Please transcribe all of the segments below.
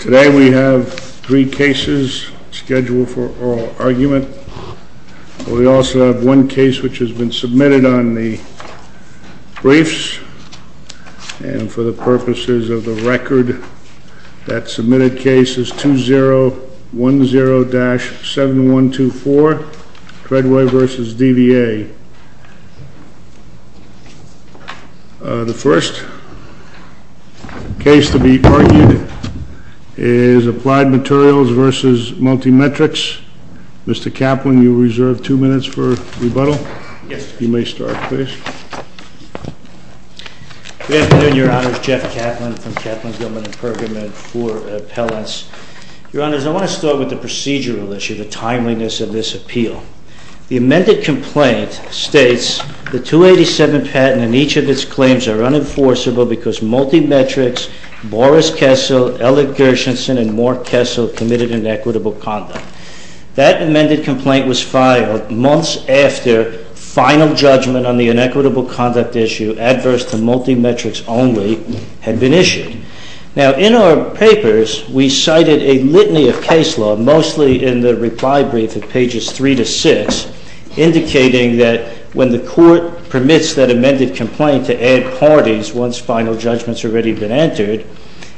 Today we have three cases scheduled for oral argument. We also have one case which has been submitted on the briefs and for the purposes of the record that the case to be argued is APPLIED MATERIALS v. MULTIMETRICS. Mr. Kaplan, you are reserved two minutes for rebuttal. Good afternoon, Your Honors. Jeff Kaplan from Kaplan Gilman and Pergamon for Appellants. Your Honors, I want to start with the procedural issue, the timeliness of this appeal. The amended complaint states the 287 patent and each of its claims are unenforceable because MULTIMETRICS, Boris Kessel, Ellett Gershenson, and Mort Kessel committed inequitable conduct. That amended complaint was filed months after final judgment on the inequitable conduct issue adverse to MULTIMETRICS only had been issued. Now in our papers, we cited a litany of case law, mostly in the reply brief at pages three to six, indicating that when the Court permits that amended complaint to add parties once final judgment has already been entered,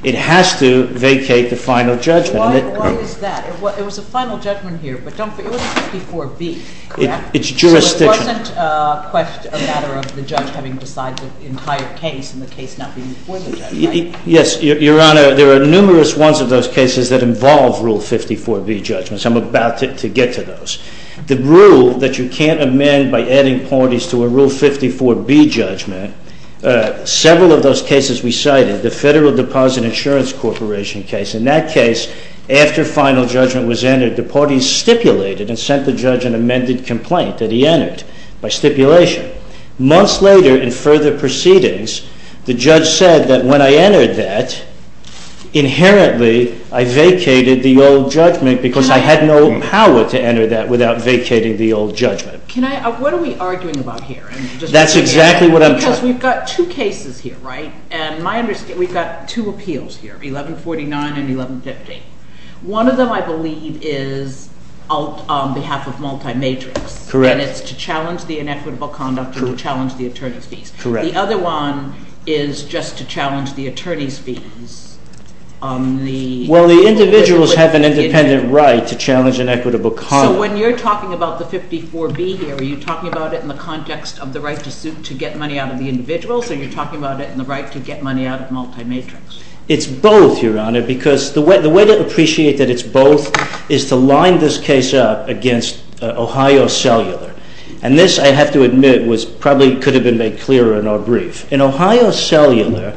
it has to vacate the final judgment. Why is that? It was a final judgment here, but it was Rule 54B, correct? It's jurisdictional. So it wasn't quite a matter of the judge having decided the entire case and the case not being before the judge, right? Yes, Your Honor. There are numerous ones of those cases that involve Rule 54B judgments. I'm about to get to those. The rule that you can't amend by adding parties to a Rule 54B judgment, several of those cases we cited, the Federal Deposit Insurance Corporation case, in that case, after final judgment was entered, the parties stipulated and sent the judge an amended complaint that he entered by stipulation. Months later, in further proceedings, the judge said that when I entered that, inherently I vacated the old judgment because I had no power to enter that without vacating the old judgment. What are we arguing about here? That's exactly what I'm... Because we've got two cases here, right? And my understanding, we've got two appeals here, 1149 and 1150. One of them, I believe, is on behalf of multi-matrix. Correct. And it's to challenge the inequitable conduct and to challenge the attorney's fees. Correct. The other one is just to challenge the attorney's fees on the... Well, the individuals have an independent right to challenge inequitable conduct. So when you're talking about the 54B here, are you talking about it in the context of the right to get money out of the individuals or are you talking about it in the right to get money out of multi-matrix? It's both, Your Honor, because the way to appreciate that it's both is to line this case up against Ohio Cellular. And this, I have to admit, probably could have been made clearer in our brief. In Ohio Cellular,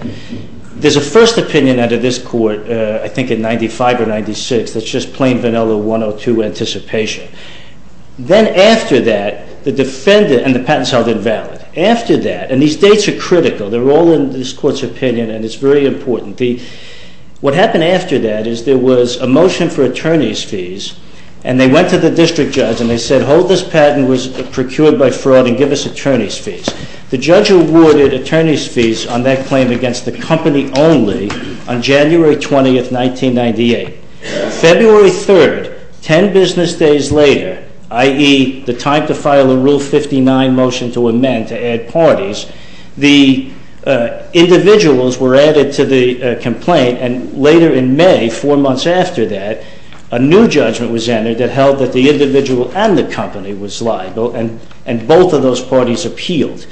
there's a first opinion out of this court, I think in 95 or 96, that's just plain vanilla 102 anticipation. Then after that, the defendant and the patent is held invalid. After that, and these dates are critical, they're all in this court's opinion and it's very important. What happened after that is there was a motion for attorney's fees and they went to the district judge and they said, hold this patent was procured by fraud and give us attorney's fees. The judge awarded attorney's fees on that and it was a company only on January 20th, 1998. February 3rd, 10 business days later, i.e. the time to file a Rule 59 motion to amend, to add parties, the individuals were added to the complaint and later in May, four months after that, a new judgment was entered that held that the individual and the company was liable and both of those parties appealed.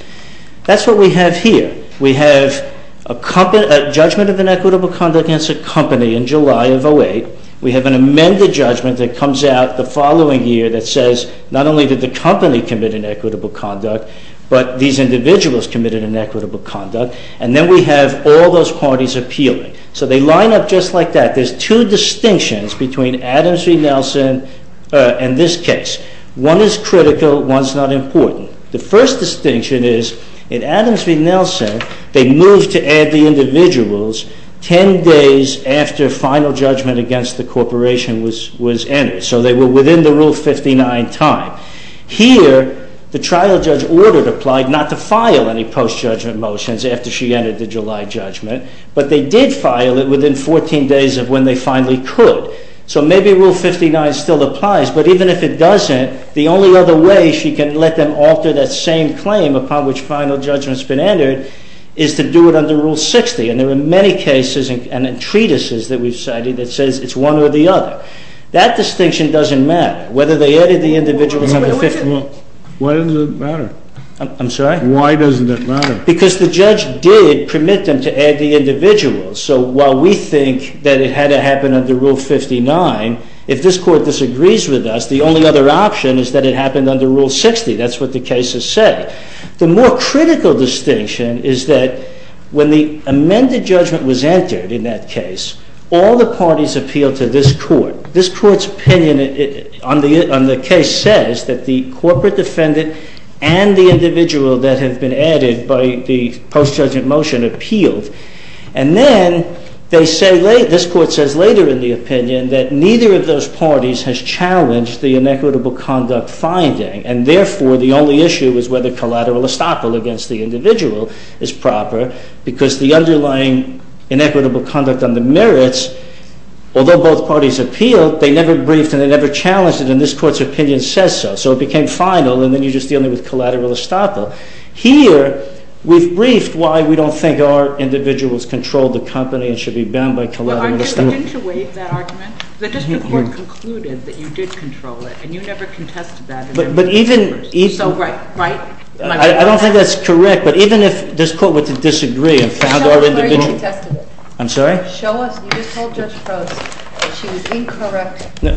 That's what we have here. We have a judgment of inequitable conduct against a company in July of 08. We have an amended judgment that comes out the following year that says not only did the company commit inequitable conduct, but these individuals committed inequitable conduct and then we have all those parties appealing. So they line up just like that. There's two distinctions between Adams v. Nelson and this case. One is critical, one's not important. The first distinction is in Adams v. Nelson, they moved to add the individuals 10 days after final judgment against the corporation was entered. So they were within the Rule 59 time. Here, the trial judge ordered, applied not to file any post-judgment motions after she entered the July judgment, but they did file it within 14 days of when they finally could. So maybe Rule 59 still applies, but even if it doesn't, the only other way she can let them alter that same claim upon which final judgment's been entered is to do it under Rule 60. And there are many cases and treatises that we've cited that says it's one or the other. That distinction doesn't matter, whether they added the individuals under Rule 59. Why doesn't it matter? I'm sorry? Why doesn't it matter? Because the judge did permit them to add the individuals. So while we think that it had to happen under Rule 59, if this Court disagrees with us, the only other option is that it should be filed under Rule 60. That's what the cases say. The more critical distinction is that when the amended judgment was entered in that case, all the parties appealed to this Court. This Court's opinion on the case says that the corporate defendant and the individual that had been added by the post-judgment motion appealed. And then this Court says later in the opinion that neither of those parties has challenged the inequitable conduct finding. And therefore, the only issue is whether collateral estoppel against the individual is proper, because the underlying inequitable conduct on the merits, although both parties appealed, they never briefed and they never challenged it. And this Court's opinion says so. So it became final, and then you're just dealing with collateral estoppel. Here we've briefed why we don't think our individuals controlled the company and should be bound by collateral estoppel. Didn't you waive that argument? The District Court concluded that you did control it, and you never contested that. But even... So, right, right? I don't think that's correct, but even if this Court were to disagree and found our individual... Show me where you contested it. I'm sorry? Show us. You just told Judge Frost that she was incorrect, and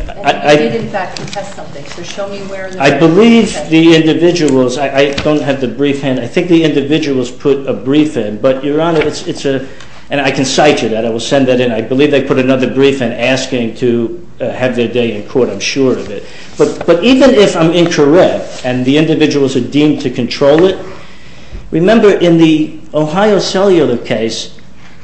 you did, in fact, contest something. So show me where... I believe the individuals... I don't have the brief in. I think the individuals put a brief in, but, Your Honor, it's a... And I can cite you that. I will send that in. I believe they put another brief in asking to have their day in court. I'm sure of it. But even if I'm incorrect, and the individuals are deemed to control it, remember in the Ohio Cellular case,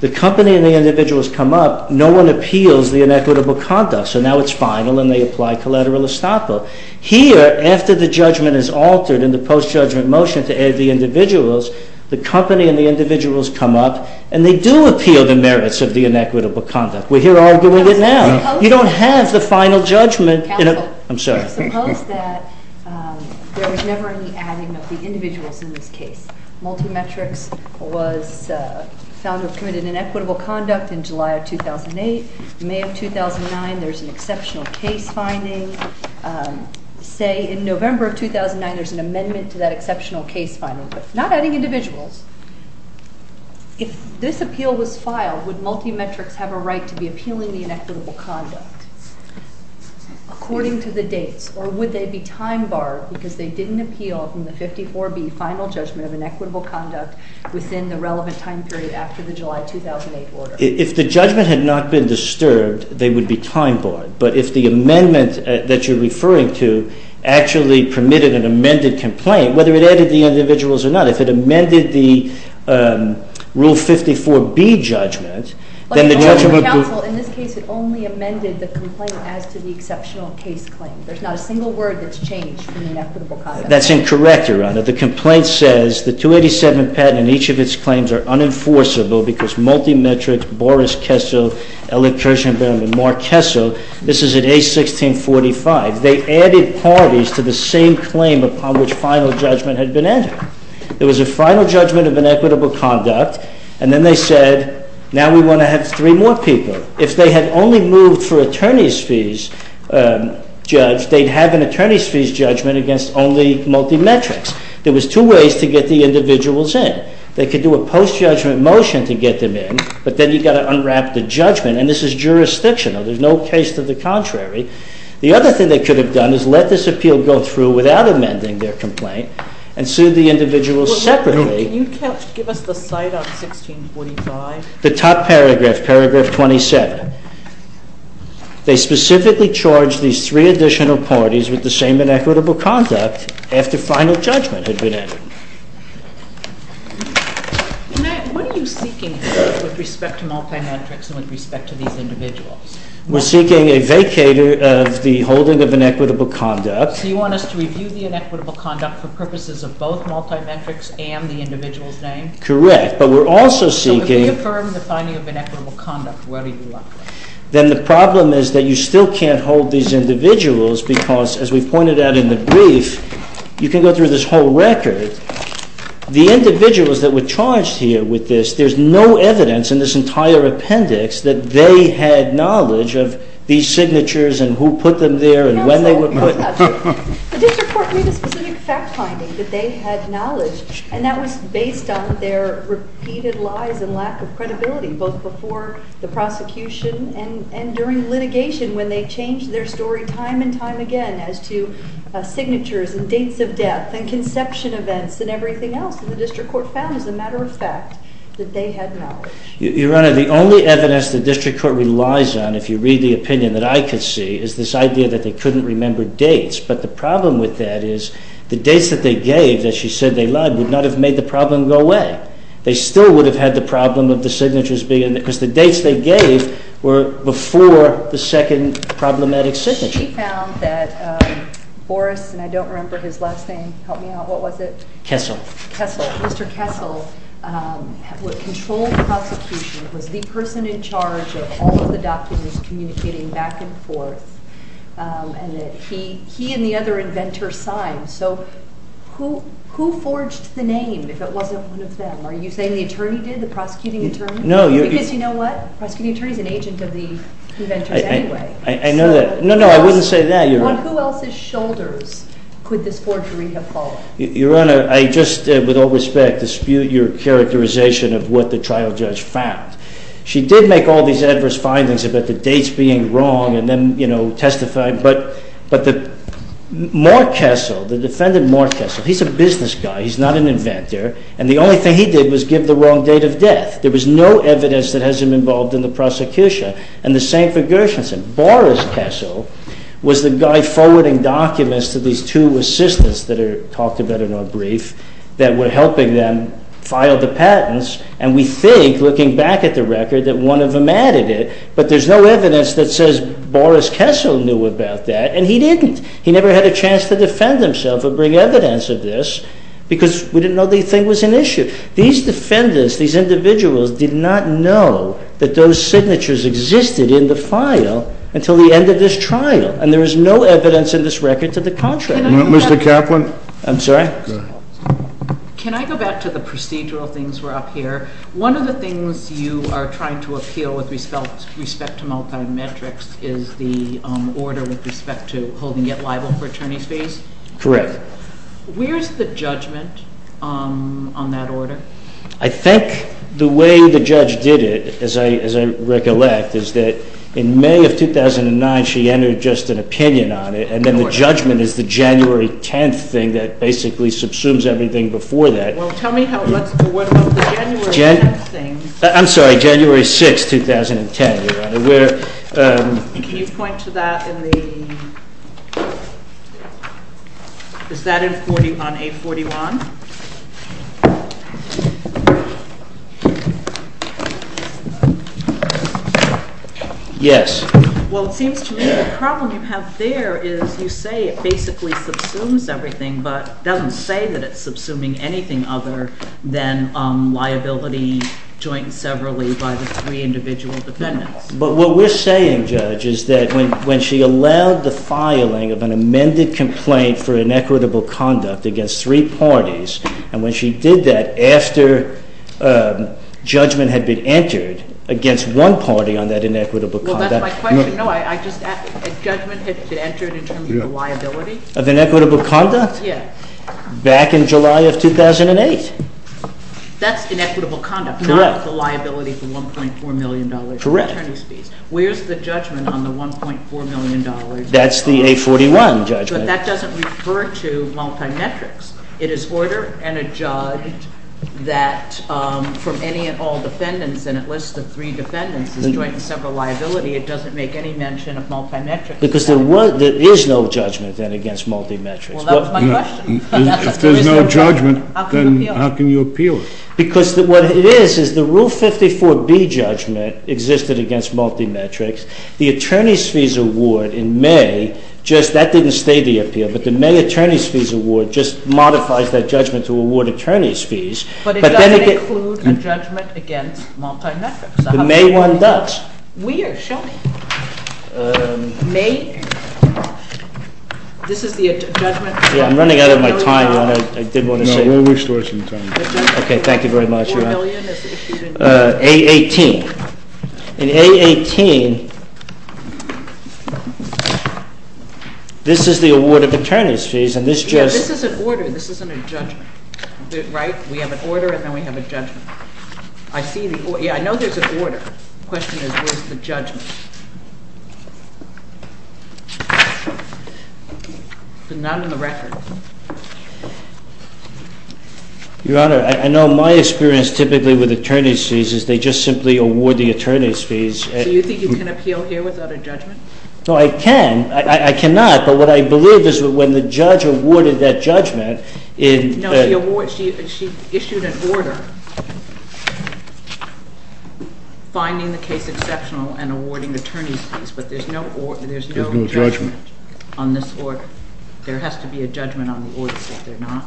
the company and the individuals come up, no one appeals the inequitable conduct. So now it's final, and they apply collateral estoppel. Here, after the judgment is altered in the post-judgment motion to add the individuals, the company and the individuals come up, and they do appeal the merits of the inequitable conduct. We're here arguing it now. You don't have the final judgment... Counsel, suppose that there was never any adding of the individuals in this case. Multimetrics was found to have committed inequitable conduct in July of 2008. In May of 2009, there's an exceptional case finding. Say in November of 2009, there's an amendment to that exceptional case finding, but not adding individuals. If this appeal was filed, would Multimetrics have a right to be appealing the inequitable conduct according to the dates, or would they be time-barred because they didn't appeal from the 54B final judgment of inequitable conduct within the relevant time period after the July 2008 order? If the judgment had not been disturbed, they would be time-barred. But if the amendment that you're referring to actually permitted an amended complaint, whether it added the individuals or not, if it amended the Rule 54B judgment, then the judgment... Counsel, in this case, it only amended the complaint as to the exceptional case claim. There's not a single word that's changed from inequitable conduct. That's incorrect, Your Honor. The complaint says the 287 patent and each of its claims are unenforceable because Multimetrics, Boris Kessel, Ellen Kirshenbaum, and Mark Kessel – this is at age 1645 – they added parties to the same claim upon which final judgment had been entered. There was a final judgment of inequitable conduct, and then they said, now we want to have three more people. If they had only moved for attorney's fees judge, they'd have an attorney's fees judgment against only Multimetrics. There was two ways to get the individuals in. They could do a post-judgment motion to get them in, but then you've got to unwrap the judgment, and this is jurisdictional. There's no case to the contrary. The other thing they could have done is let this appeal go through without amending their complaint and sued the individuals separately. Well, can you give us the cite on 1645? The top paragraph, paragraph 27. They specifically charged these three additional parties with the same inequitable conduct after final judgment had been entered. What are you seeking here with respect to We're seeking a vacator of the holding of inequitable conduct. So you want us to review the inequitable conduct for purposes of both Multimetrics and the individual's name? Correct, but we're also seeking So if we affirm the finding of inequitable conduct, where do you lock them? Then the problem is that you still can't hold these individuals because, as we've pointed out in the brief, you can go through this whole record. The individuals that were of these signatures, and who put them there, and when they were put there. The district court made a specific fact finding that they had knowledge, and that was based on their repeated lies and lack of credibility, both before the prosecution and during litigation when they changed their story time and time again as to signatures and dates of death and conception events and everything else. The district court found, as a matter of fact, that they had knowledge. Your Honor, the only evidence the district court relies on, if you read the opinion that I can see, is this idea that they couldn't remember dates, but the problem with that is the dates that they gave, that she said they lied, would not have made the problem go away. They still would have had the problem of the signatures being, because the dates they gave were before the second problematic signature. She found that Boris, and I don't remember his last name, help me out, what was it? Kessel. Mr. Kessel, who controlled the prosecution, was the person in charge of all of the documents communicating back and forth, and that he and the other inventors signed. So, who forged the name if it wasn't one of them? Are you saying the attorney did, the prosecuting attorney? No. Because you know what? The prosecuting attorney is an agent of the inventors anyway. I know that. No, no, I wouldn't say that, Your Honor. On who else's shoulders could this forgery have fallen? Your Honor, I just, with all respect, dispute your characterization of what the trial judge found. She did make all these adverse findings about the dates being wrong, and then, you know, testifying, but, but the, Mark Kessel, the defendant Mark Kessel, he's a business guy, he's not an inventor, and the only thing he did was give the wrong date of death. There was no evidence that has him involved in the prosecution, and the same for Gershenson. Boris Kessel was the guy forwarding documents to these two assistants that are talked about in our brief that were helping them file the patents, and we think, looking back at the record, that one of them added it, but there's no evidence that says Boris Kessel knew about that, and he didn't. He never had a chance to defend himself or bring evidence of this, because we didn't know the thing was an issue. These defendants, these individuals, did not know that those signatures existed in the contract. Mr. Kaplan? I'm sorry? Go ahead. Can I go back to the procedural things we're up here? One of the things you are trying to appeal with respect to multi-metrics is the order with respect to holding yet liable for attorney's fees? Correct. Where's the judgment on that order? I think the way the judge did it, as I, as I recollect, is that in May of 2009, she entered just an opinion on it, and then the judgment is the January 10th thing that basically subsumes everything before that. Well, tell me how, what about the January 10th thing? I'm sorry, January 6, 2010, Your Honor. Can you point to that in the, is that on A41? Yes. Well, it seems to me the problem you have there is you say it basically subsumes everything, but it doesn't say that it's subsuming anything other than liability joint and severally by the three individual defendants. But what we're saying, Judge, is that when, when she allowed the filing of an amended complaint for inequitable conduct against three parties, and when she did that after judgment had been entered against one party on that inequitable conduct. Well, that's my question. No, I just, a judgment had been entered in terms of liability? Of inequitable conduct? Yes. Back in July of 2008. That's inequitable conduct. Correct. Not the liability for $1.4 million for attorney's fees. Correct. Where's the judgment on the $1.4 million? That's the A41 judgment. But that doesn't refer to multimetrics. It is order and a judge that from any and all defendants, and it lists the three defendants as joint and several liability. It doesn't make any mention of multimetrics. Because there was, there is no judgment then against multimetrics. Well, that was my question. If there's no judgment, then how can you appeal it? Because what it is, is the Rule 54B judgment existed against multimetrics. The attorney's fees award in May, just that didn't state the appeal. But the May attorney's fees award just modifies that judgment to award attorney's fees. But it doesn't include a judgment against multimetrics. The May one does. We are showing. May, this is the judgment. Yeah, I'm running out of my time, Your Honor. I did want to say. No, we'll restore some time. Okay, thank you very much, Your Honor. $1.4 million is issued in May. A18. In A18, this is the award of attorney's fees and this just. Yeah, this is an order. This isn't a judgment. Right? We have an order and then we have a judgment. I see the order. Yeah, I know there's an order. The question is, where's the judgment? But not in the record. Your Honor, I know my experience typically with attorney's fees is they just simply award the attorney's fees. Do you think you can appeal here without a judgment? No, I can. I cannot. But what I believe is when the judge awarded that judgment. No, she issued an order finding the case exceptional and awarding attorney's fees. But there's no judgment on this order. There has to be a judgment on the order if there's not.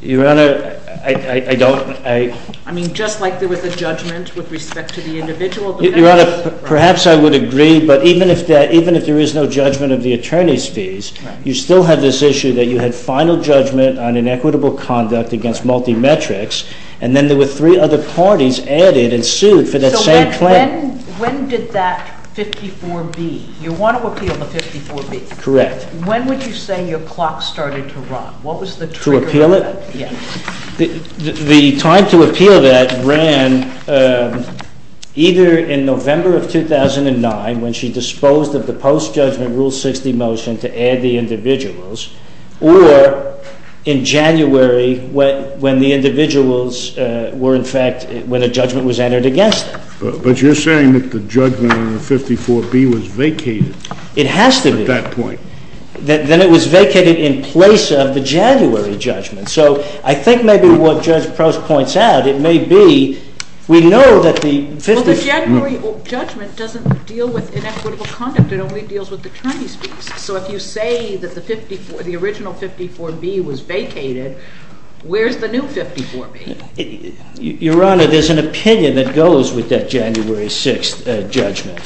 Your Honor, I don't. I mean, just like there was a judgment with respect to the individual. Your Honor, perhaps I would agree, but even if there is no judgment of the attorney's fees, you still have this issue that you had final judgment on inequitable conduct against multi-metrics and then there were three other parties added and sued for that same claim. When did that 54 be? You want to appeal the 54 be? Correct. When would you say your clock started to run? To appeal it? Yes. The time to appeal that ran either in November of 2009 when she disposed of the post-judgment Rule 60 motion to add the individuals or in January when the individuals were in fact, when a judgment was entered against them. But you're saying that the judgment on the 54 be was vacated. It has to be. At that point. Then it was vacated in place of the January judgment. So I think maybe what Judge Post points out, it may be we know that the 50. Well, the January judgment doesn't deal with inequitable conduct. It only deals with attorney's fees. So if you say that the original 54 be was vacated, where's the new 54 be? Your Honor, there's an opinion that goes with that January 6th judgment.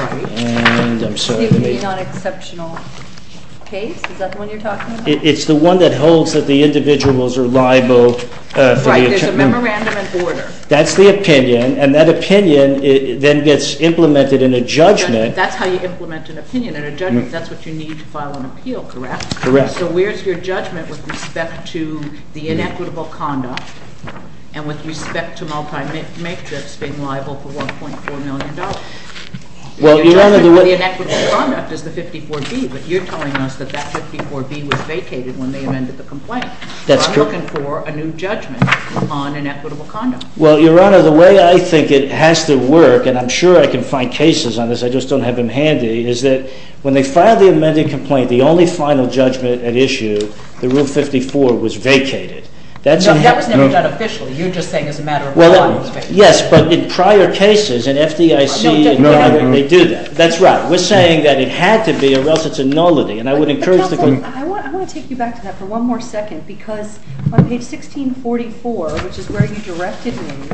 Right. And I'm sorry. It would be on exceptional case? Is that the one you're talking about? It's the one that holds that the individuals are liable. Right. There's a memorandum and order. That's the opinion. And that opinion then gets implemented in a judgment. That's how you implement an opinion in a judgment. That's what you need to file an appeal, correct? Correct. So where's your judgment with respect to the inequitable conduct and with respect to multi-mate that's been liable for $1.4 million? The inequitable conduct is the 54 be, but you're telling us that that 54 be was vacated when they amended the complaint. That's correct. So I'm looking for a new judgment on inequitable conduct. Well, Your Honor, the way I think it has to work, and I'm sure I can find cases on this, I just don't have them handy, is that when they filed the amended complaint, the only final judgment at issue, the rule 54, was vacated. That was never done officially. You're just saying as a matter of law it was vacated. Yes, but in prior cases, in FDIC, they do that. That's right. We're saying that it had to be or else it's a nullity, and I would encourage the court. Counsel, I want to take you back to that for one more second because on page 1644, which is where you directed me,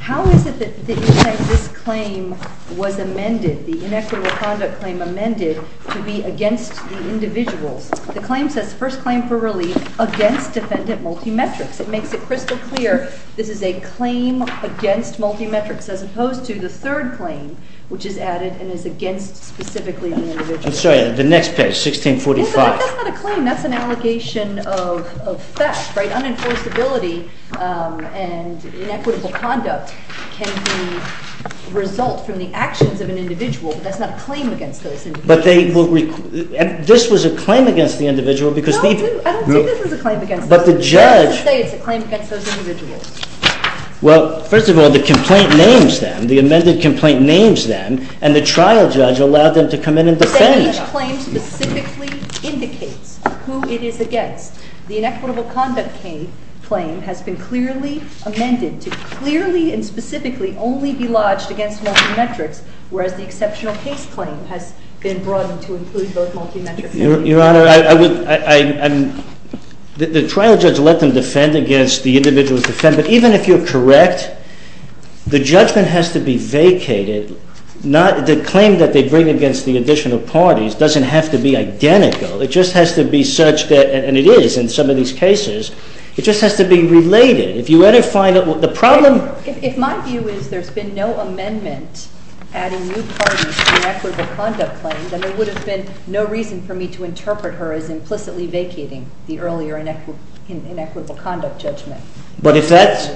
how is it that you say this claim was amended, the inequitable conduct claim amended, to be against the individuals? The claim says first claim for relief against defendant multi-metrics. It makes it crystal clear this is a claim against multi-metrics as opposed to the third claim, which is added and is against specifically the individuals. I'm sorry, the next page, 1645. That's not a claim. That's an allegation of theft, right? Inequitable conduct can result from the actions of an individual, but that's not a claim against those individuals. But they will – this was a claim against the individual because the – No, it didn't. I don't think this was a claim against those individuals. But the judge – I have to say it's a claim against those individuals. Well, first of all, the complaint names them. The amended complaint names them, and the trial judge allowed them to come in and defend. Each claim specifically indicates who it is against. The inequitable conduct claim has been clearly amended to clearly and specifically only be lodged against multi-metrics, whereas the exceptional case claim has been broadened to include both multi-metrics. Your Honor, I would – the trial judge let them defend against the individual's defendant. Even if you're correct, the judgment has to be vacated. The claim that they bring against the additional parties doesn't have to be identical. It just has to be such that – and it is in some of these cases. It just has to be related. If you were to find out what the problem – If my view is there's been no amendment adding new parties to inequitable conduct claims, then there would have been no reason for me to interpret her as implicitly vacating the earlier inequitable conduct judgment. But if that's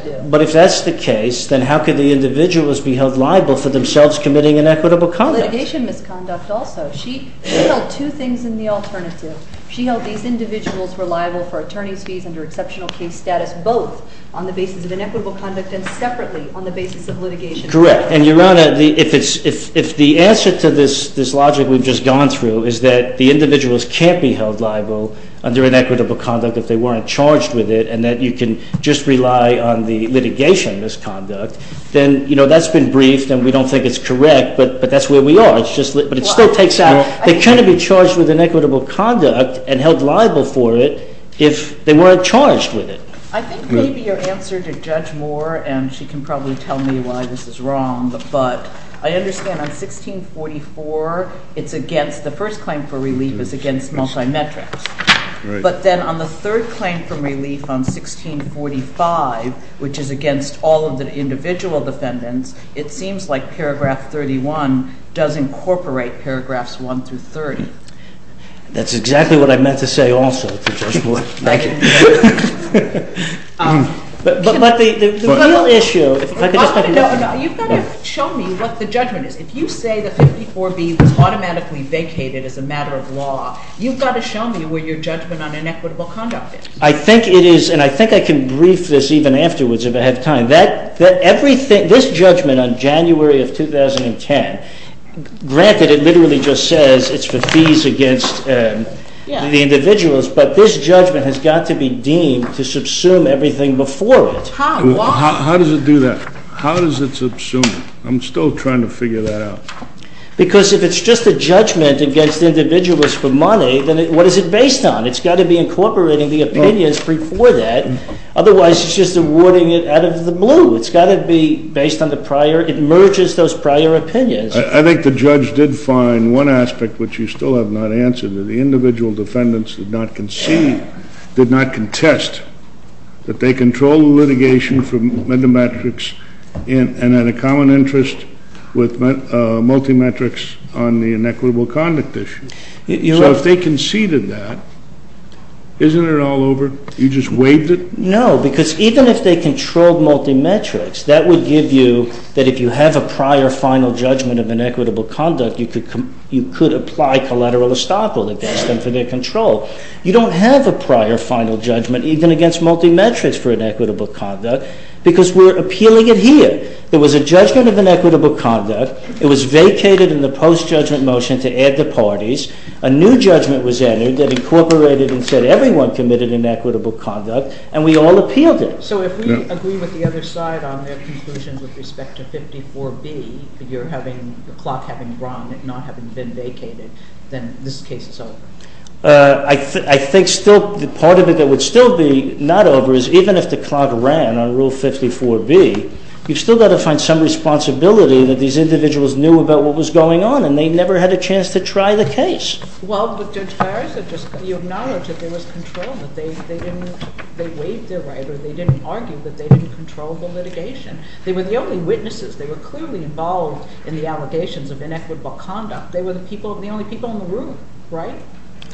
the case, then how could the individuals be held liable for themselves committing inequitable conduct? Litigation misconduct also. She held two things in the alternative. She held these individuals were liable for attorney's fees under exceptional case status, both on the basis of inequitable conduct and separately on the basis of litigation misconduct. Correct. And, Your Honor, if the answer to this logic we've just gone through is that the individuals can't be held liable under inequitable conduct if they weren't charged with it and that you can just rely on the litigation misconduct, then, you know, that's been briefed and we don't think it's correct, but that's where we are. But it still takes out – they couldn't be charged with inequitable conduct and held liable for it if they weren't charged with it. I think maybe your answer to Judge Moore, and she can probably tell me why this is wrong, but I understand on 1644 it's against – the first claim for relief is against multi-metrics. But then on the third claim for relief on 1645, which is against all of the individual defendants, it seems like paragraph 31 does incorporate paragraphs 1 through 30. That's exactly what I meant to say also to Judge Moore. Thank you. But the real issue – You've got to show me what the judgment is. If you say that 54B was automatically vacated as a matter of law, you've got to show me where your judgment on inequitable conduct is. I think it is – and I think I can brief this even afterwards if I have time. This judgment on January of 2010, granted it literally just says it's for fees against the individuals, but this judgment has got to be deemed to subsume everything before it. How does it do that? How does it subsume it? I'm still trying to figure that out. Because if it's just a judgment against individuals for money, then what is it based on? It's got to be incorporating the opinions before that. Otherwise, it's just awarding it out of the blue. It's got to be based on the prior – it merges those prior opinions. I think the judge did find one aspect, which you still have not answered, that the individual defendants did not concede, did not contest, that they controlled the litigation from Medimetrics and had a common interest with Multimetrics on the inequitable conduct issue. So if they conceded that, isn't it all over? You just waived it? No, because even if they controlled Multimetrics, that would give you – that if you have a prior final judgment of inequitable conduct, you could apply collateral estoppel against them for their control. You don't have a prior final judgment even against Multimetrics for inequitable conduct because we're appealing it here. There was a judgment of inequitable conduct. It was vacated in the post-judgment motion to add the parties. A new judgment was entered that incorporated and said everyone committed inequitable conduct, and we all appealed it. So if we agree with the other side on their conclusions with respect to 54B, you're having – the clock having run and not having been vacated, then this case is over. I think still part of it that would still be not over is even if the clock ran on Rule 54B, you've still got to find some responsibility that these individuals knew about what was going on and they never had a chance to try the case. Well, but Judge Farris, you acknowledged that there was control, that they didn't – they waived their right or they didn't argue that they didn't control the litigation. They were the only witnesses. They were clearly involved in the allegations of inequitable conduct. They were the people – the only people in the room, right?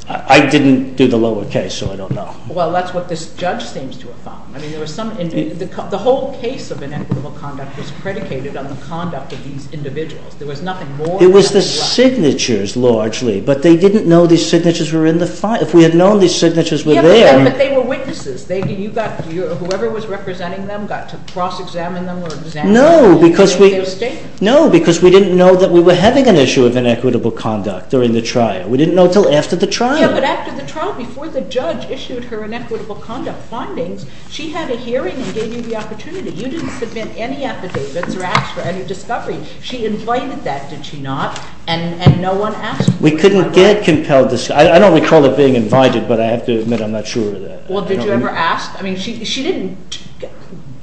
I didn't do the lower case, so I don't know. Well, that's what this judge seems to have found. I mean, there was some – the whole case of inequitable conduct was predicated on the conduct of these individuals. There was nothing more than – It was the signatures largely, but they didn't know these signatures were in the – if we had known these signatures were there – Yeah, but they were witnesses. They – you got – whoever was representing them got to cross-examine them or examine – No, because we –– their statement. No, because we didn't know that we were having an issue of inequitable conduct during the trial. We didn't know until after the trial. Yeah, but after the trial, before the judge issued her inequitable conduct findings, she had a hearing and gave you the opportunity. You didn't submit any affidavits or ask for any discovery. She invited that, did she not? And no one asked for that. We couldn't get compelled – I don't recall it being invited, but I have to admit I'm not sure of that. Well, did you ever ask? I mean, she didn't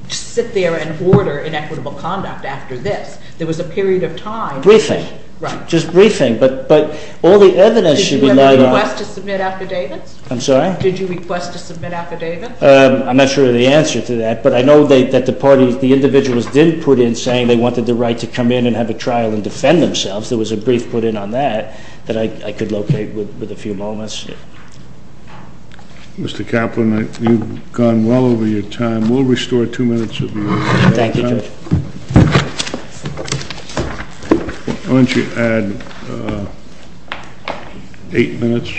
sit there and order inequitable conduct after this. There was a period of time – Briefing. Right. Just briefing, but all the evidence should be – Did you ever request to submit affidavits? I'm sorry? Did you request to submit affidavits? I'm not sure of the answer to that, but I know that the parties – the individuals did put in saying they wanted the right to come in and have a trial and defend themselves. There was a brief put in on that that I could locate with a few moments. Mr. Kaplan, you've gone well over your time. We'll restore two minutes of your time. Thank you, Judge. Why don't you add eight minutes?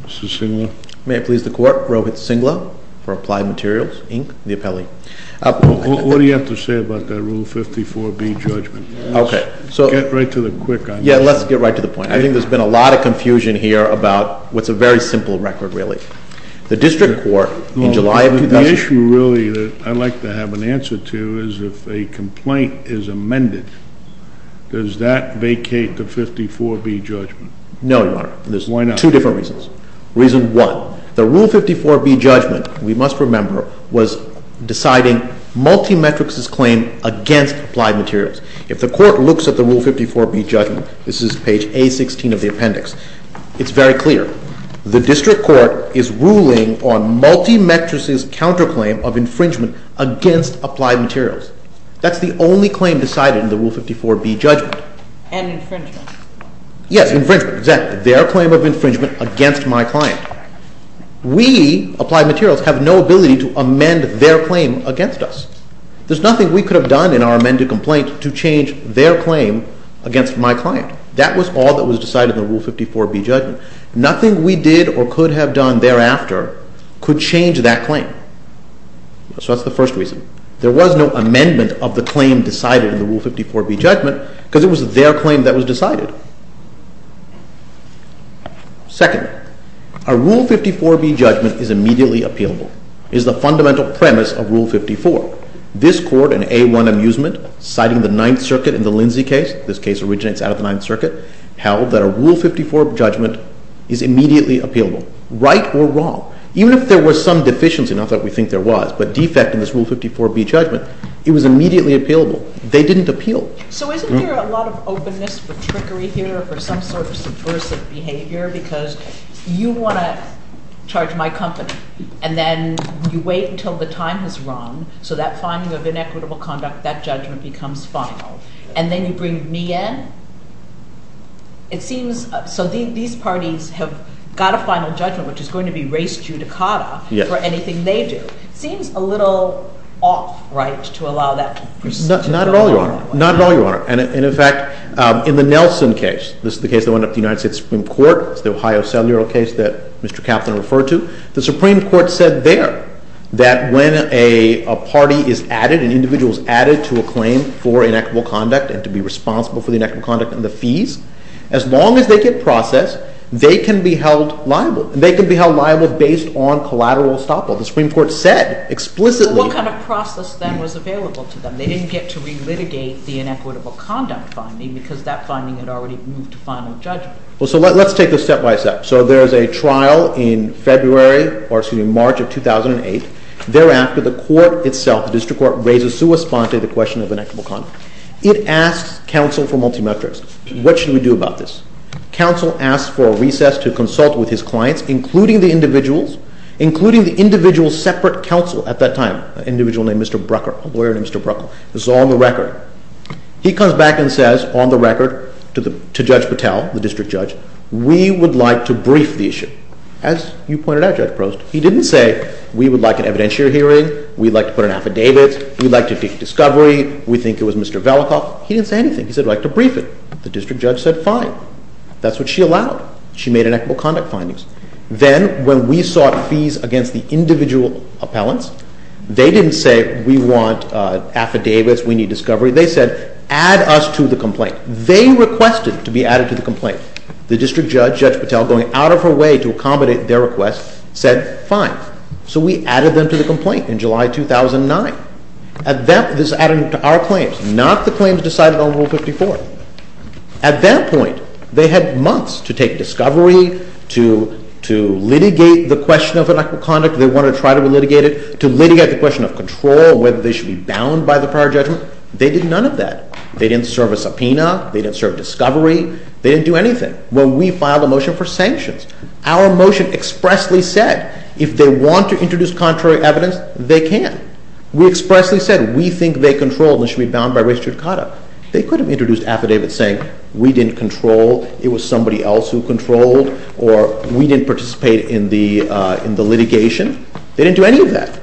Mr. Singlow. May it please the Court, Rohit Singlow for Applied Materials, Inc., the appellee. What do you have to say about that Rule 54B judgment? Okay. Get right to the quick on this. Yeah, let's get right to the point. I think there's been a lot of confusion here about what's a very simple record, really. The district court in July of – The issue, really, that I'd like to have an answer to is if a complaint is amended, does that vacate the 54B judgment? No, Your Honor. Why not? For two different reasons. Reason one, the Rule 54B judgment, we must remember, was deciding Multimetrics' claim against Applied Materials. If the Court looks at the Rule 54B judgment, this is page A-16 of the appendix, it's very clear. The district court is ruling on Multimetrics' counterclaim of infringement against Applied Materials. That's the only claim decided in the Rule 54B judgment. And infringement. Yes, infringement, exactly. Their claim of infringement against my client. We, Applied Materials, have no ability to amend their claim against us. There's nothing we could have done in our amended complaint to change their claim against my client. That was all that was decided in the Rule 54B judgment. Nothing we did or could have done thereafter could change that claim. So that's the first reason. There was no amendment of the claim decided in the Rule 54B judgment because it was their claim that was decided. Second, a Rule 54B judgment is immediately appealable, is the fundamental premise of Rule 54. This Court in A-1 Amusement, citing the Ninth Circuit in the Lindsay case, this case originates out of the Ninth Circuit, held that a Rule 54 judgment is immediately appealable, right or wrong. Even if there was some deficiency, not that we think there was, but defect in this Rule 54B judgment, it was immediately appealable. They didn't appeal. So isn't there a lot of openness for trickery here or some sort of subversive behavior because you want to charge my company and then you wait until the time has run so that finding of inequitable conduct, that judgment becomes final, and then you bring me in? It seems – so these parties have got a final judgment, which is going to be res judicata for anything they do. It seems a little off, right, to allow that. Not at all, Your Honor. Not at all, Your Honor. And in fact, in the Nelson case, this is the case that went up to the United States Supreme Court. It's the Ohio cellular case that Mr. Kaplan referred to. The Supreme Court said there that when a party is added, an individual is added to a claim for inequitable conduct and to be responsible for the inequitable conduct and the fees, as long as they get processed, they can be held liable. They can be held liable based on collateral estoppel. The Supreme Court said explicitly – They didn't get to relitigate the inequitable conduct finding because that finding had already moved to final judgment. Well, so let's take this step-by-step. So there is a trial in February or, excuse me, March of 2008. Thereafter, the court itself, the district court, raises to respond to the question of inequitable conduct. It asks counsel for multimetrics. What should we do about this? Counsel asks for a recess to consult with his clients, including the individuals, separate counsel at that time, an individual named Mr. Brucker, a lawyer named Mr. Brucker. This is on the record. He comes back and says on the record to Judge Patel, the district judge, we would like to brief the issue. As you pointed out, Judge Prost, he didn't say we would like an evidentiary hearing, we'd like to put an affidavit, we'd like to take discovery, we think it was Mr. Velikoff. He didn't say anything. He said we'd like to brief it. The district judge said fine. That's what she allowed. She made inequitable conduct findings. Then when we sought fees against the individual appellants, they didn't say we want affidavits, we need discovery. They said add us to the complaint. They requested to be added to the complaint. The district judge, Judge Patel, going out of her way to accommodate their request, said fine. So we added them to the complaint in July 2009. This is added to our claims, not the claims decided on Rule 54. At that point, they had months to take discovery, to litigate the question of inequitable conduct, if they wanted to try to litigate it, to litigate the question of control, whether they should be bound by the prior judgment. They did none of that. They didn't serve a subpoena. They didn't serve discovery. They didn't do anything. Well, we filed a motion for sanctions. Our motion expressly said if they want to introduce contrary evidence, they can. We expressly said we think they controlled and should be bound by race judicata. They could have introduced affidavits saying we didn't control, it was somebody else who controlled, or we didn't participate in the litigation. They didn't do any of that.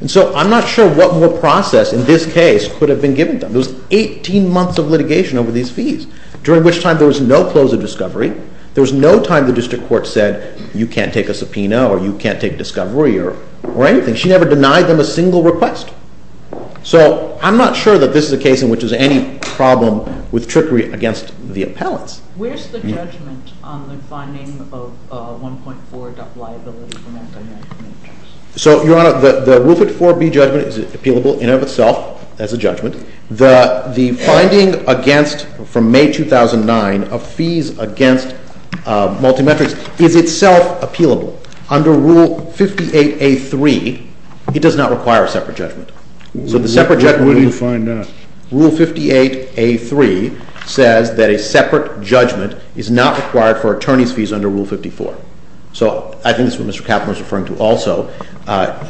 And so I'm not sure what more process in this case could have been given to them. There was 18 months of litigation over these fees, during which time there was no close of discovery. There was no time the district court said you can't take a subpoena or you can't take discovery or anything. She never denied them a single request. So I'm not sure that this is a case in which there's any problem with trickery against the appellants. Where's the judgment on the finding of 1.4 liability for multi-metrics? So, Your Honor, the Wilford 4B judgment is appealable in and of itself as a judgment. The finding against, from May 2009, of fees against multi-metrics is itself appealable. Under Rule 58A.3, it does not require a separate judgment. So the separate judgment... Where do you find that? Rule 58A.3 says that a separate judgment is not required for attorney's fees under Rule 54. So I think that's what Mr. Kaplan was referring to also.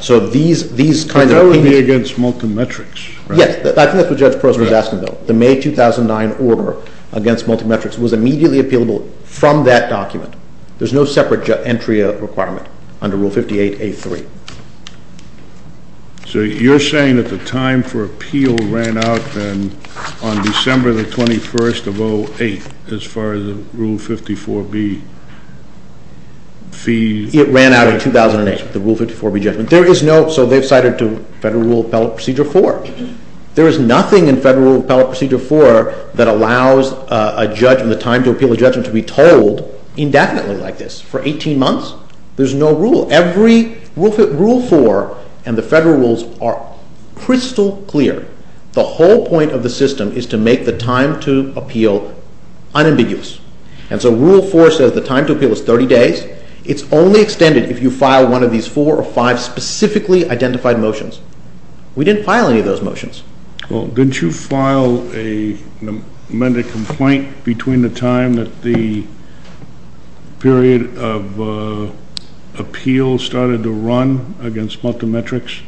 So these kinds of... But that would be against multi-metrics, right? Yes. I think that's what Judge Prost was asking, though. The May 2009 order against multi-metrics was immediately appealable from that document. There's no separate entry requirement under Rule 58A.3. So you're saying that the time for appeal ran out on December the 21st of 08, as far as the Rule 54B fees? It ran out in 2008, the Rule 54B judgment. There is no... So they've cited to Federal Rule of Appellate Procedure 4. There is nothing in Federal Rule of Appellate Procedure 4 that allows a judge and the time to appeal a judgment to be told indefinitely like this. For 18 months? There's no rule. Every... Rule 4 and the Federal rules are crystal clear. The whole point of the system is to make the time to appeal unambiguous. And so Rule 4 says the time to appeal is 30 days. It's only extended if you file one of these four or five specifically identified motions. We didn't file any of those motions. Well, didn't you file an amended complaint between the time that the period of appeal started to run against multi-metrics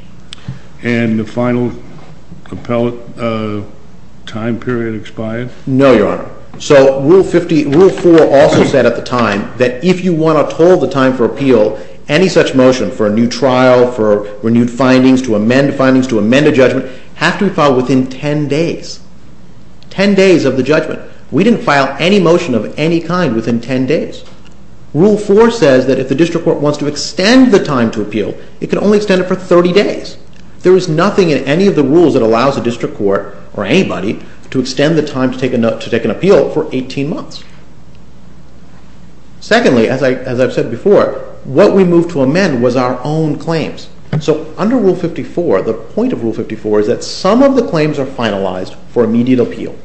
and the final appellate time period expired? No, Your Honor. So Rule 50... Rule 4 also said at the time that if you want to hold the time for appeal, any such motion for a new trial, for renewed findings, to amend findings, to amend a judgment, have to be filed within 10 days. 10 days of the judgment. We didn't file any motion of any kind within 10 days. Rule 4 says that if the district court wants to extend the time to appeal, it can only extend it for 30 days. There is nothing in any of the rules that allows a district court or anybody to extend the time to take an appeal for 18 months. Secondly, as I've said before, what we moved to amend was our own claims. So under Rule 54, the point of Rule 54 is that some of the claims are finalized for immediate appeal.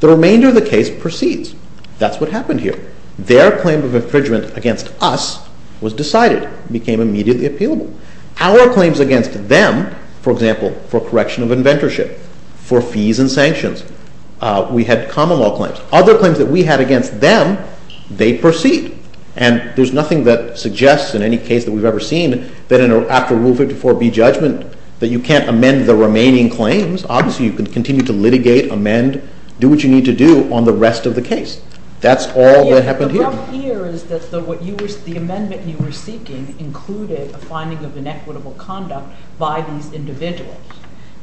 The remainder of the case proceeds. That's what happened here. Their claim of infringement against us was decided, became immediately appealable. Our claims against them, for example, for correction of inventorship, for fees and sanctions, we had common law claims. Other claims that we had against them, they proceed. And there's nothing that suggests in any case that we've ever seen that after Rule 54B judgment that you can't amend the remaining claims. Obviously, you can continue to litigate, amend, do what you need to do on the rest of the case. That's all that happened here. The amendment you were seeking included a finding of inequitable conduct by these individuals.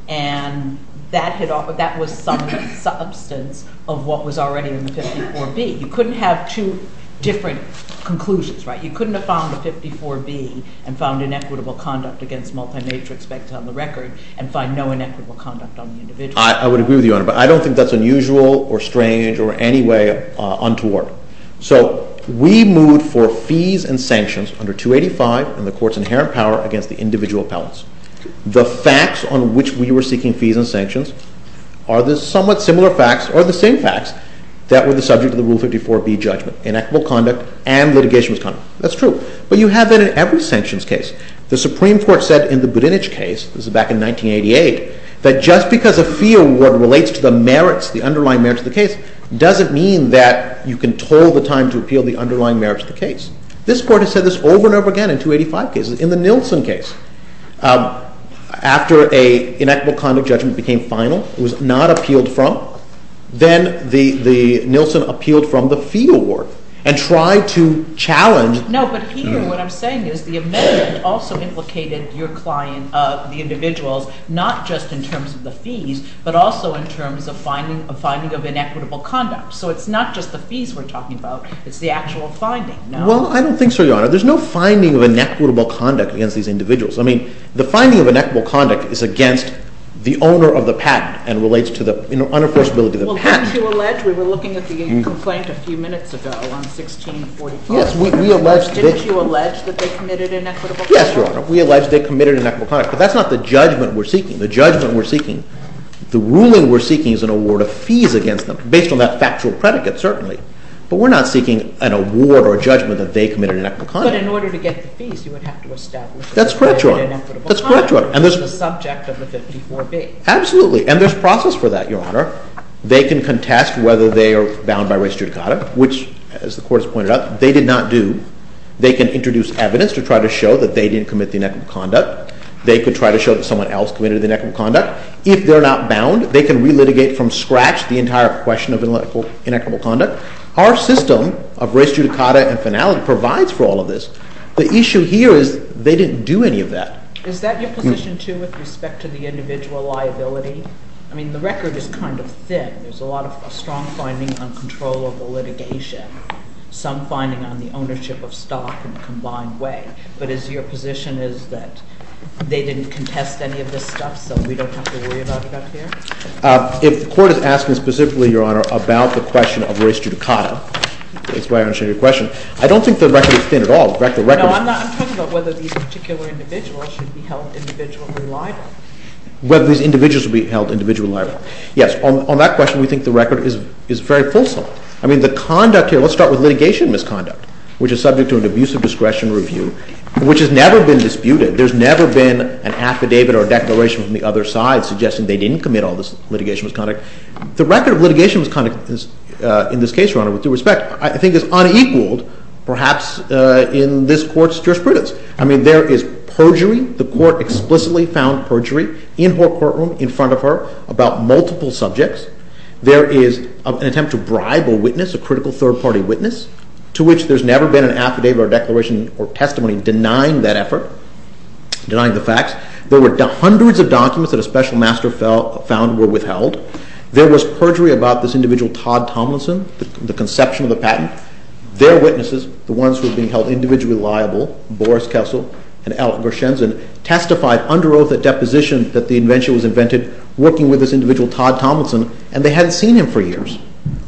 And that was some substance of what was already in 54B. You couldn't have two different conclusions, right? You couldn't have found 54B and found inequitable conduct against multi-matrix on the record and find no inequitable conduct on the individual. I would agree with you on it. But I don't think that's unusual or strange or any way untoward. So, we moved for fees and sanctions under 285 in the court's inherent power against the individual appellants. The facts on which we were seeking fees and sanctions are the somewhat similar facts or the same facts that were the subject of the Rule 54B judgment. Inequitable conduct and litigation was common. That's true. But you have that in every sanctions case. The Supreme Court said in the Budinich case, this was back in 1988, that just because a fee award relates to the merits, the underlying merits of the case, doesn't mean that you can toll the time to appeal the underlying merits of the case. This Court has said this over and over again in 285 cases. In the Nielsen case, after an inequitable conduct judgment became final, it was not appealed from, then the Nielsen appealed from the fee award and tried to challenge. No, but here what I'm saying is the amendment also implicated your client, the individuals, not just in terms of the fees, but also in terms of finding of inequitable conduct. So it's not just the fees we're talking about, it's the actual finding. Well, I don't think so, Your Honor. There's no finding of inequitable conduct against these individuals. I mean, the finding of inequitable conduct is against the owner of the patent and relates to the unenforceability of the patent. Well, didn't you allege, we were looking at the complaint a few minutes ago on 1644. Yes. Didn't you allege that they committed inequitable conduct? Yes, Your Honor. We allege they committed inequitable conduct. But that's not the judgment we're seeking. The judgment we're seeking, the ruling we're seeking is an award of fees against them, based on that factual predicate, certainly. But we're not seeking an award or a judgment that they committed inequitable conduct. But in order to get the fees, you would have to establish that they committed inequitable conduct. That's correct, Your Honor. That's the subject of the 54B. Absolutely. And there's process for that, Your Honor. They can contest whether they are bound by res judicata, which, as the Court has pointed out, they did not do. They can introduce evidence to try to show that they didn't commit the inequitable conduct. They could try to show that someone else committed the inequitable conduct. If they're not bound, they can relitigate from scratch the entire question of inequitable conduct. Our system of res judicata and finality provides for all of this. The issue here is they didn't do any of that. Is that your position, too, with respect to the individual liability? I mean, the record is kind of thin. There's a lot of strong finding on controllable litigation, some finding on the ownership of stock in a combined way. But is your position is that they didn't contest any of this stuff, so we don't have to worry about it up here? If the Court is asking specifically, Your Honor, about the question of res judicata, that's why I understand your question. I don't think the record is thin at all. No, I'm not. I'm talking about whether these particular individuals should be held individually liable. Whether these individuals should be held individually liable. Yes, on that question, we think the record is very fulsome. I mean, the conduct here, let's start with litigation misconduct, which is subject to an abusive discretion review, which has never been disputed. There's never been an affidavit or a declaration from the other side suggesting they didn't commit all this litigation misconduct. The record of litigation misconduct in this case, Your Honor, with due respect, I think is unequaled, perhaps, in this Court's jurisprudence. I mean, there is perjury. The Court explicitly found perjury in her courtroom, in front of her, about multiple subjects. There is an attempt to bribe a witness, a critical third-party witness, to which there's never been an affidavit or declaration or testimony denying that effort, denying the facts. There were hundreds of documents that a special master found were withheld. There was perjury about this individual, Todd Tomlinson, the conception of the patent. Their witnesses, the ones who were being held individually liable, Boris Kessel and Alan Gershenson, testified under oath at deposition that the invention was invented, working with this individual, Todd Tomlinson, and they hadn't seen him for years.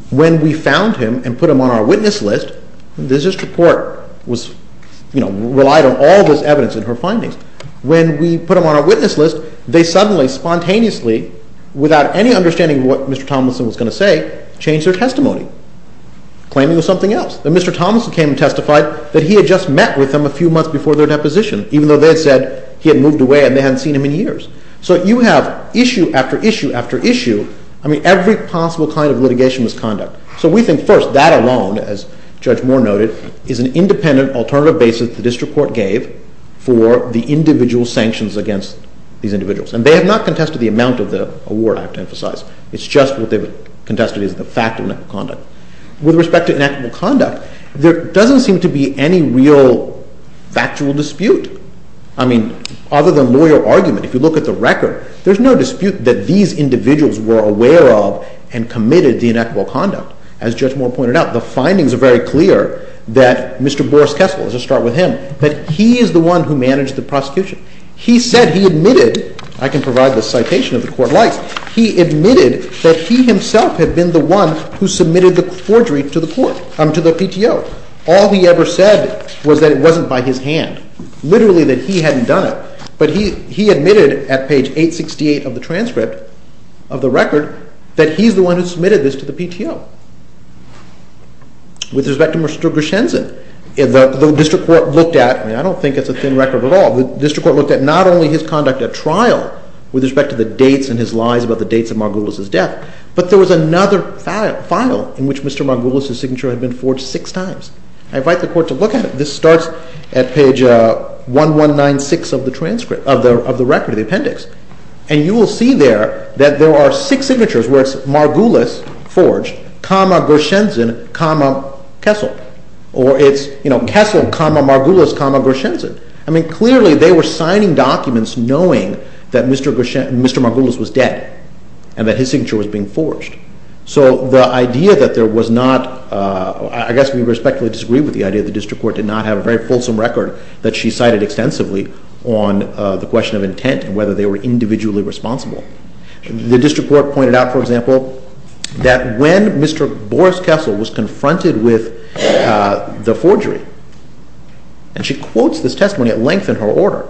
When we found him and put him on our witness list, this report relied on all this evidence and her findings. When we put him on our witness list, they suddenly, spontaneously, without any understanding of what Mr. Tomlinson was going to say, changed their testimony, claiming it was something else. That Mr. Tomlinson came and testified that he had just met with them a few months before their deposition, even though they had said he had moved away and they hadn't seen him in years. So you have issue after issue after issue. I mean, every possible kind of litigation was conduct. So we think, first, that alone, as Judge Moore noted, is an independent alternative basis the district court gave for the individual sanctions against these individuals. And they have not contested the amount of the award, I have to emphasize. It's just what they've contested is the fact of inactive conduct. With respect to inactive conduct, there doesn't seem to be any real factual dispute. I mean, other than lawyer argument, if you look at the record, there's no dispute that these individuals were aware of and committed the inactive conduct. As Judge Moore pointed out, the findings are very clear that Mr. Boris Kessel, let's just start with him, that he is the one who managed the prosecution. He said he admitted, I can provide the citation if the court likes, he admitted that he himself had been the one who submitted the forgery to the court, to the PTO. All he ever said was that it wasn't by his hand, literally that he hadn't done it. But he admitted at page 868 of the transcript of the record that he's the one who submitted this to the PTO. With respect to Mr. Grishenson, the district court looked at, and I don't think it's a thin record at all, the district court looked at not only his conduct at trial with respect to the dates and his lies about the dates of Margulis' death, but there was another file in which Mr. Margulis' signature had been forged six times. I invite the court to look at it. This starts at page 1196 of the transcript, of the record, the appendix. And you will see there that there are six signatures where it's Margulis forged, comma Grishenson, comma Kessel. Or it's Kessel, comma Margulis, comma Grishenson. I mean clearly they were signing documents knowing that Mr. Margulis was dead and that his signature was being forged. So the idea that there was not, I guess we respectfully disagree with the idea that the district court did not have a very fulsome record that she cited extensively on the question of intent and whether they were individually responsible. The district court pointed out, for example, that when Mr. Boris Kessel was confronted with the forgery, and she quotes this testimony at length in her order,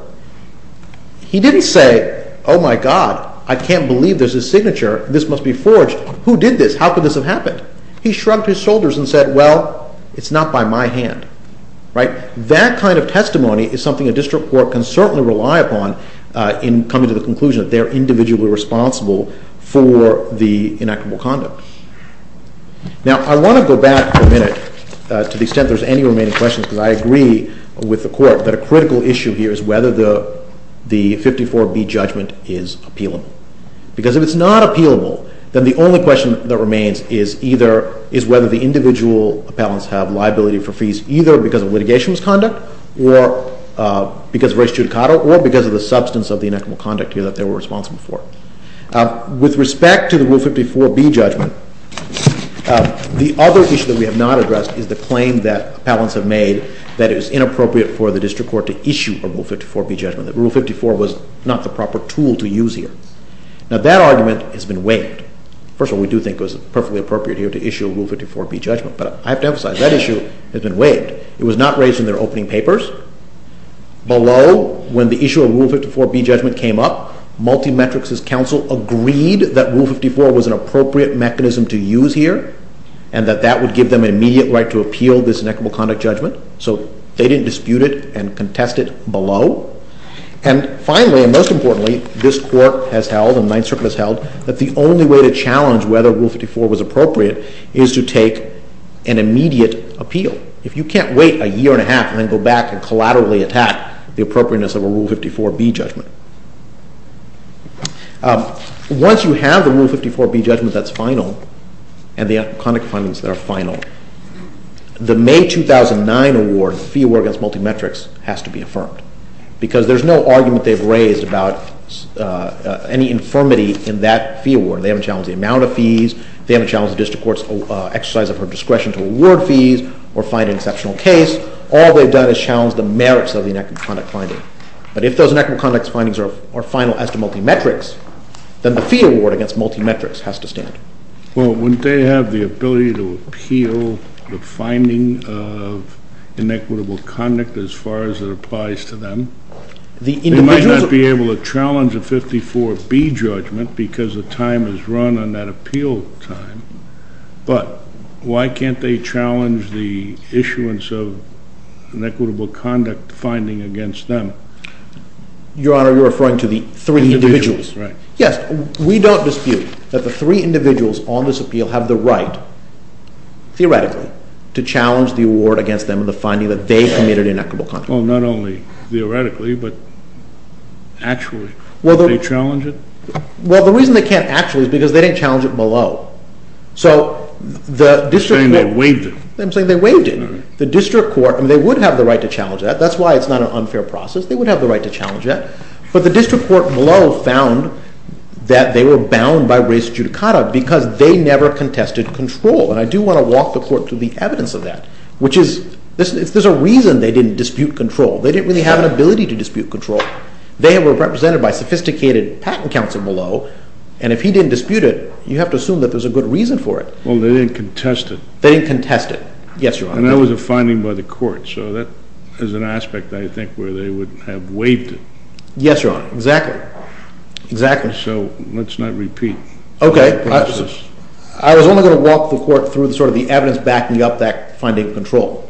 he didn't say, oh my God, I can't believe there's a signature, this must be forged. Who did this? How could this have happened? He shrugged his shoulders and said, well, it's not by my hand. That kind of testimony is something a district court can certainly rely upon in coming to the conclusion that they're individually responsible for the inactable conduct. Now I want to go back for a minute to the extent there's any remaining questions, because I agree with the court that a critical issue here is whether the 54B judgment is appealable. Because if it's not appealable, then the only question that remains is whether the individual appellants have liability for fees either because of litigation misconduct, or because of res judicato, or because of the substance of the inactable conduct here that they were responsible for. With respect to the Rule 54B judgment, the other issue that we have not addressed is the claim that appellants have made that it was inappropriate for the district court to issue a Rule 54B judgment, that Rule 54 was not the proper tool to use here. Now that argument has been waived. First of all, we do think it was perfectly appropriate here to issue a Rule 54B judgment, but I have to emphasize that issue has been waived. It was not raised in their opening papers. Below, when the issue of Rule 54B judgment came up, Multimetrics' counsel agreed that Rule 54 was an appropriate mechanism to use here, and that that would give them an immediate right to appeal this inactable conduct judgment. So they didn't dispute it and contest it below. And finally, and most importantly, this Court has held, and the Ninth Circuit has held, that the only way to challenge whether Rule 54 was appropriate is to take an immediate appeal. If you can't wait a year and a half and then go back and collaterally attack the appropriateness of a Rule 54B judgment. Once you have the Rule 54B judgment that's final, and the conduct findings that are final, the May 2009 award, the fee award against Multimetrics, has to be affirmed, because there's no argument they've raised about any infirmity in that fee award. They haven't challenged the amount of fees. They haven't challenged the district court's exercise of her discretion to award fees or find an exceptional case. All they've done is challenged the merits of the inactable conduct finding. But if those inactable conduct findings are final as to Multimetrics, then the fee award against Multimetrics has to stand. Well, wouldn't they have the ability to appeal the finding of inequitable conduct as far as it applies to them? They might not be able to challenge a 54B judgment because the time is run on that appeal time. But why can't they challenge the issuance of inequitable conduct finding against them? Your Honor, you're referring to the three individuals. Right. Yes, we don't dispute that the three individuals on this appeal have the right, theoretically, to challenge the award against them in the finding that they committed inequitable conduct. Well, not only theoretically, but actually. Well, the reason they can't actually is because they didn't challenge it below. You're saying they waived it. I'm saying they waived it. All right. The district court, and they would have the right to challenge that. That's why it's not an unfair process. They would have the right to challenge that. But the district court below found that they were bound by race judicata because they never contested control. And I do want to walk the court through the evidence of that, which is there's a reason they didn't dispute control. They didn't really have an ability to dispute control. They were represented by sophisticated patent counsel below, and if he didn't dispute it, you have to assume that there's a good reason for it. Well, they didn't contest it. They didn't contest it. Yes, Your Honor. And that was a finding by the court. So that is an aspect, I think, where they would have waived it. Yes, Your Honor. Exactly. Exactly. So let's not repeat. Okay. I was only going to walk the court through sort of the evidence backing up that finding of control.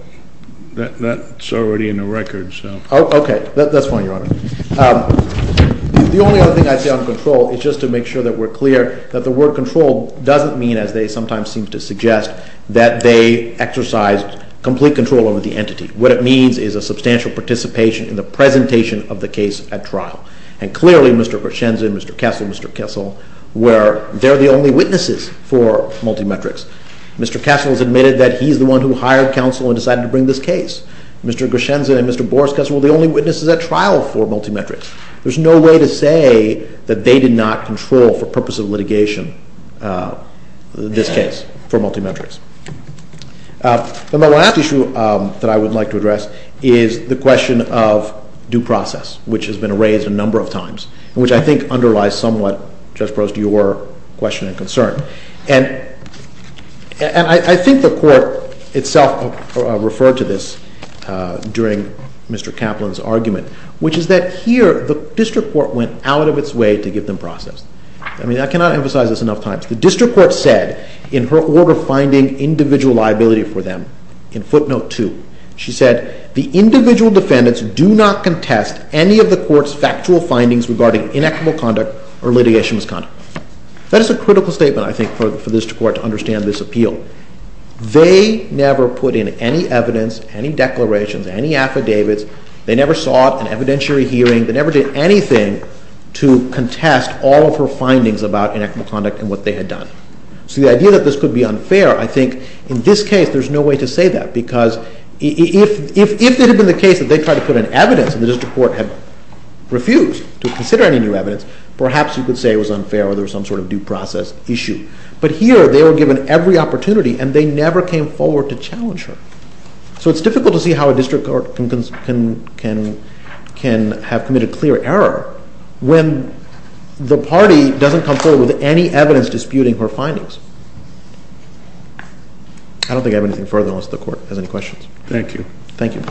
That's already in the record, so. Okay. That's fine, Your Honor. The only other thing I'd say on control is just to make sure that we're clear that the word control doesn't mean, as they sometimes seem to suggest, that they exercised complete control over the entity. What it means is a substantial participation in the presentation of the case at trial. And clearly, Mr. Grishenson, Mr. Kessel, Mr. Kessel, they're the only witnesses for multi-metrics. Mr. Kessel has admitted that he's the one who hired counsel and decided to bring this case. Mr. Grishenson and Mr. Borska, well, they're the only witnesses at trial for multi-metrics. There's no way to say that they did not control, for purposes of litigation, this case for multi-metrics. The last issue that I would like to address is the question of due process, which has been raised a number of times, which I think underlies somewhat, Judge Prost, your question and concern. And I think the court itself referred to this during Mr. Kaplan's argument, which is that here, the district court went out of its way to give them process. I mean, I cannot emphasize this enough times. The district court said, in her order finding individual liability for them, in footnote 2, she said, the individual defendants do not contest any of the court's factual findings regarding inequitable conduct or litigation misconduct. That is a critical statement, I think, for the district court to understand this appeal. They never put in any evidence, any declarations, any affidavits. They never sought an evidentiary hearing. They never did anything to contest all of her findings about inequitable conduct and what they had done. So the idea that this could be unfair, I think, in this case, there's no way to say that. Because if it had been the case that they tried to put in evidence and the district court had refused to consider any new evidence, perhaps you could say it was unfair or there was some sort of due process issue. But here, they were given every opportunity, and they never came forward to challenge her. So it's difficult to see how a district court can have committed clear error when the party doesn't come forward with any evidence disputing her findings. I don't think I have anything further unless the court has any questions. Thank you. Thank you.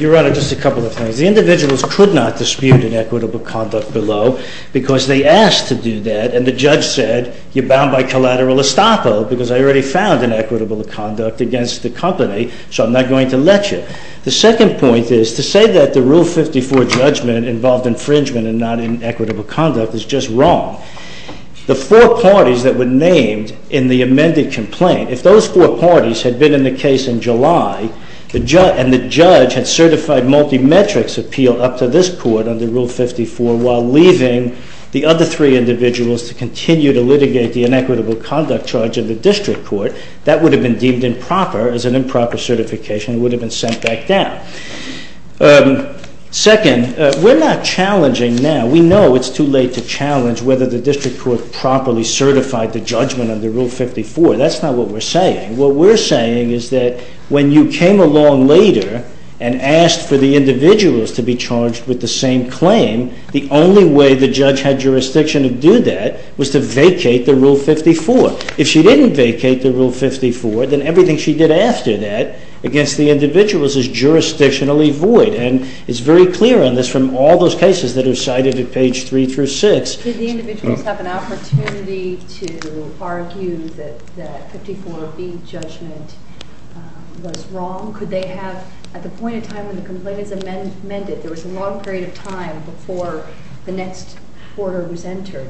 Your Honor, just a couple of things. The individuals could not dispute inequitable conduct below because they asked to do that, and the judge said, you're bound by collateral estoppel because I already found inequitable conduct against the company, so I'm not going to let you. The second point is to say that the Rule 54 judgment involved infringement and not inequitable conduct is just wrong. The four parties that were named in the amended complaint, if those four parties had been in the case in July and the judge had certified multi-metrics appeal up to this court under Rule 54 while leaving the other three individuals to continue to litigate the inequitable conduct charge of the district court, that would have been deemed improper as an improper certification and would have been sent back down. Second, we're not challenging now. We know it's too late to challenge whether the district court properly certified the judgment under Rule 54. That's not what we're saying. What we're saying is that when you came along later and asked for the individuals to be charged with the same claim, the only way the judge had jurisdiction to do that was to vacate the Rule 54. If she didn't vacate the Rule 54, then everything she did after that against the individuals is jurisdictionally void, and it's very clear on this from all those cases that are cited at page 3 through 6. Did the individuals have an opportunity to argue that the 54B judgment was wrong? Could they have, at the point in time when the complaint is amended, there was a long period of time before the next order was entered,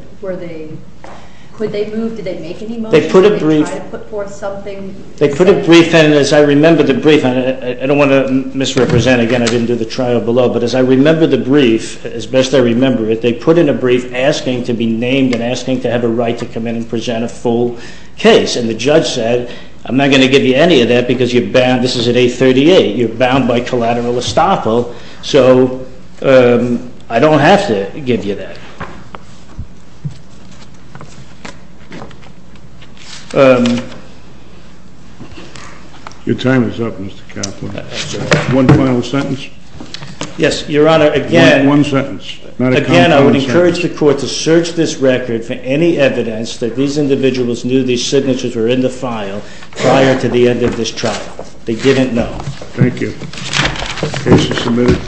could they move, did they make any motions, did they try to put forth something? They put a brief, and as I remember the brief, and I don't want to misrepresent again, I didn't do the trial below, but as I remember the brief, as best I remember it, they put in a brief asking to be named and asking to have a right to come in and present a full case, and the judge said, I'm not going to give you any of that because you're bound, this is at 838, you're bound by collateral estoppel, so I don't have to give you that. Your time is up, Mr. Kaplan. One final sentence? Yes, Your Honor, again, I would encourage the court to search this record for any evidence that these individuals knew these signatures were in the file prior to the end of this trial. They didn't know. Thank you. Case is submitted.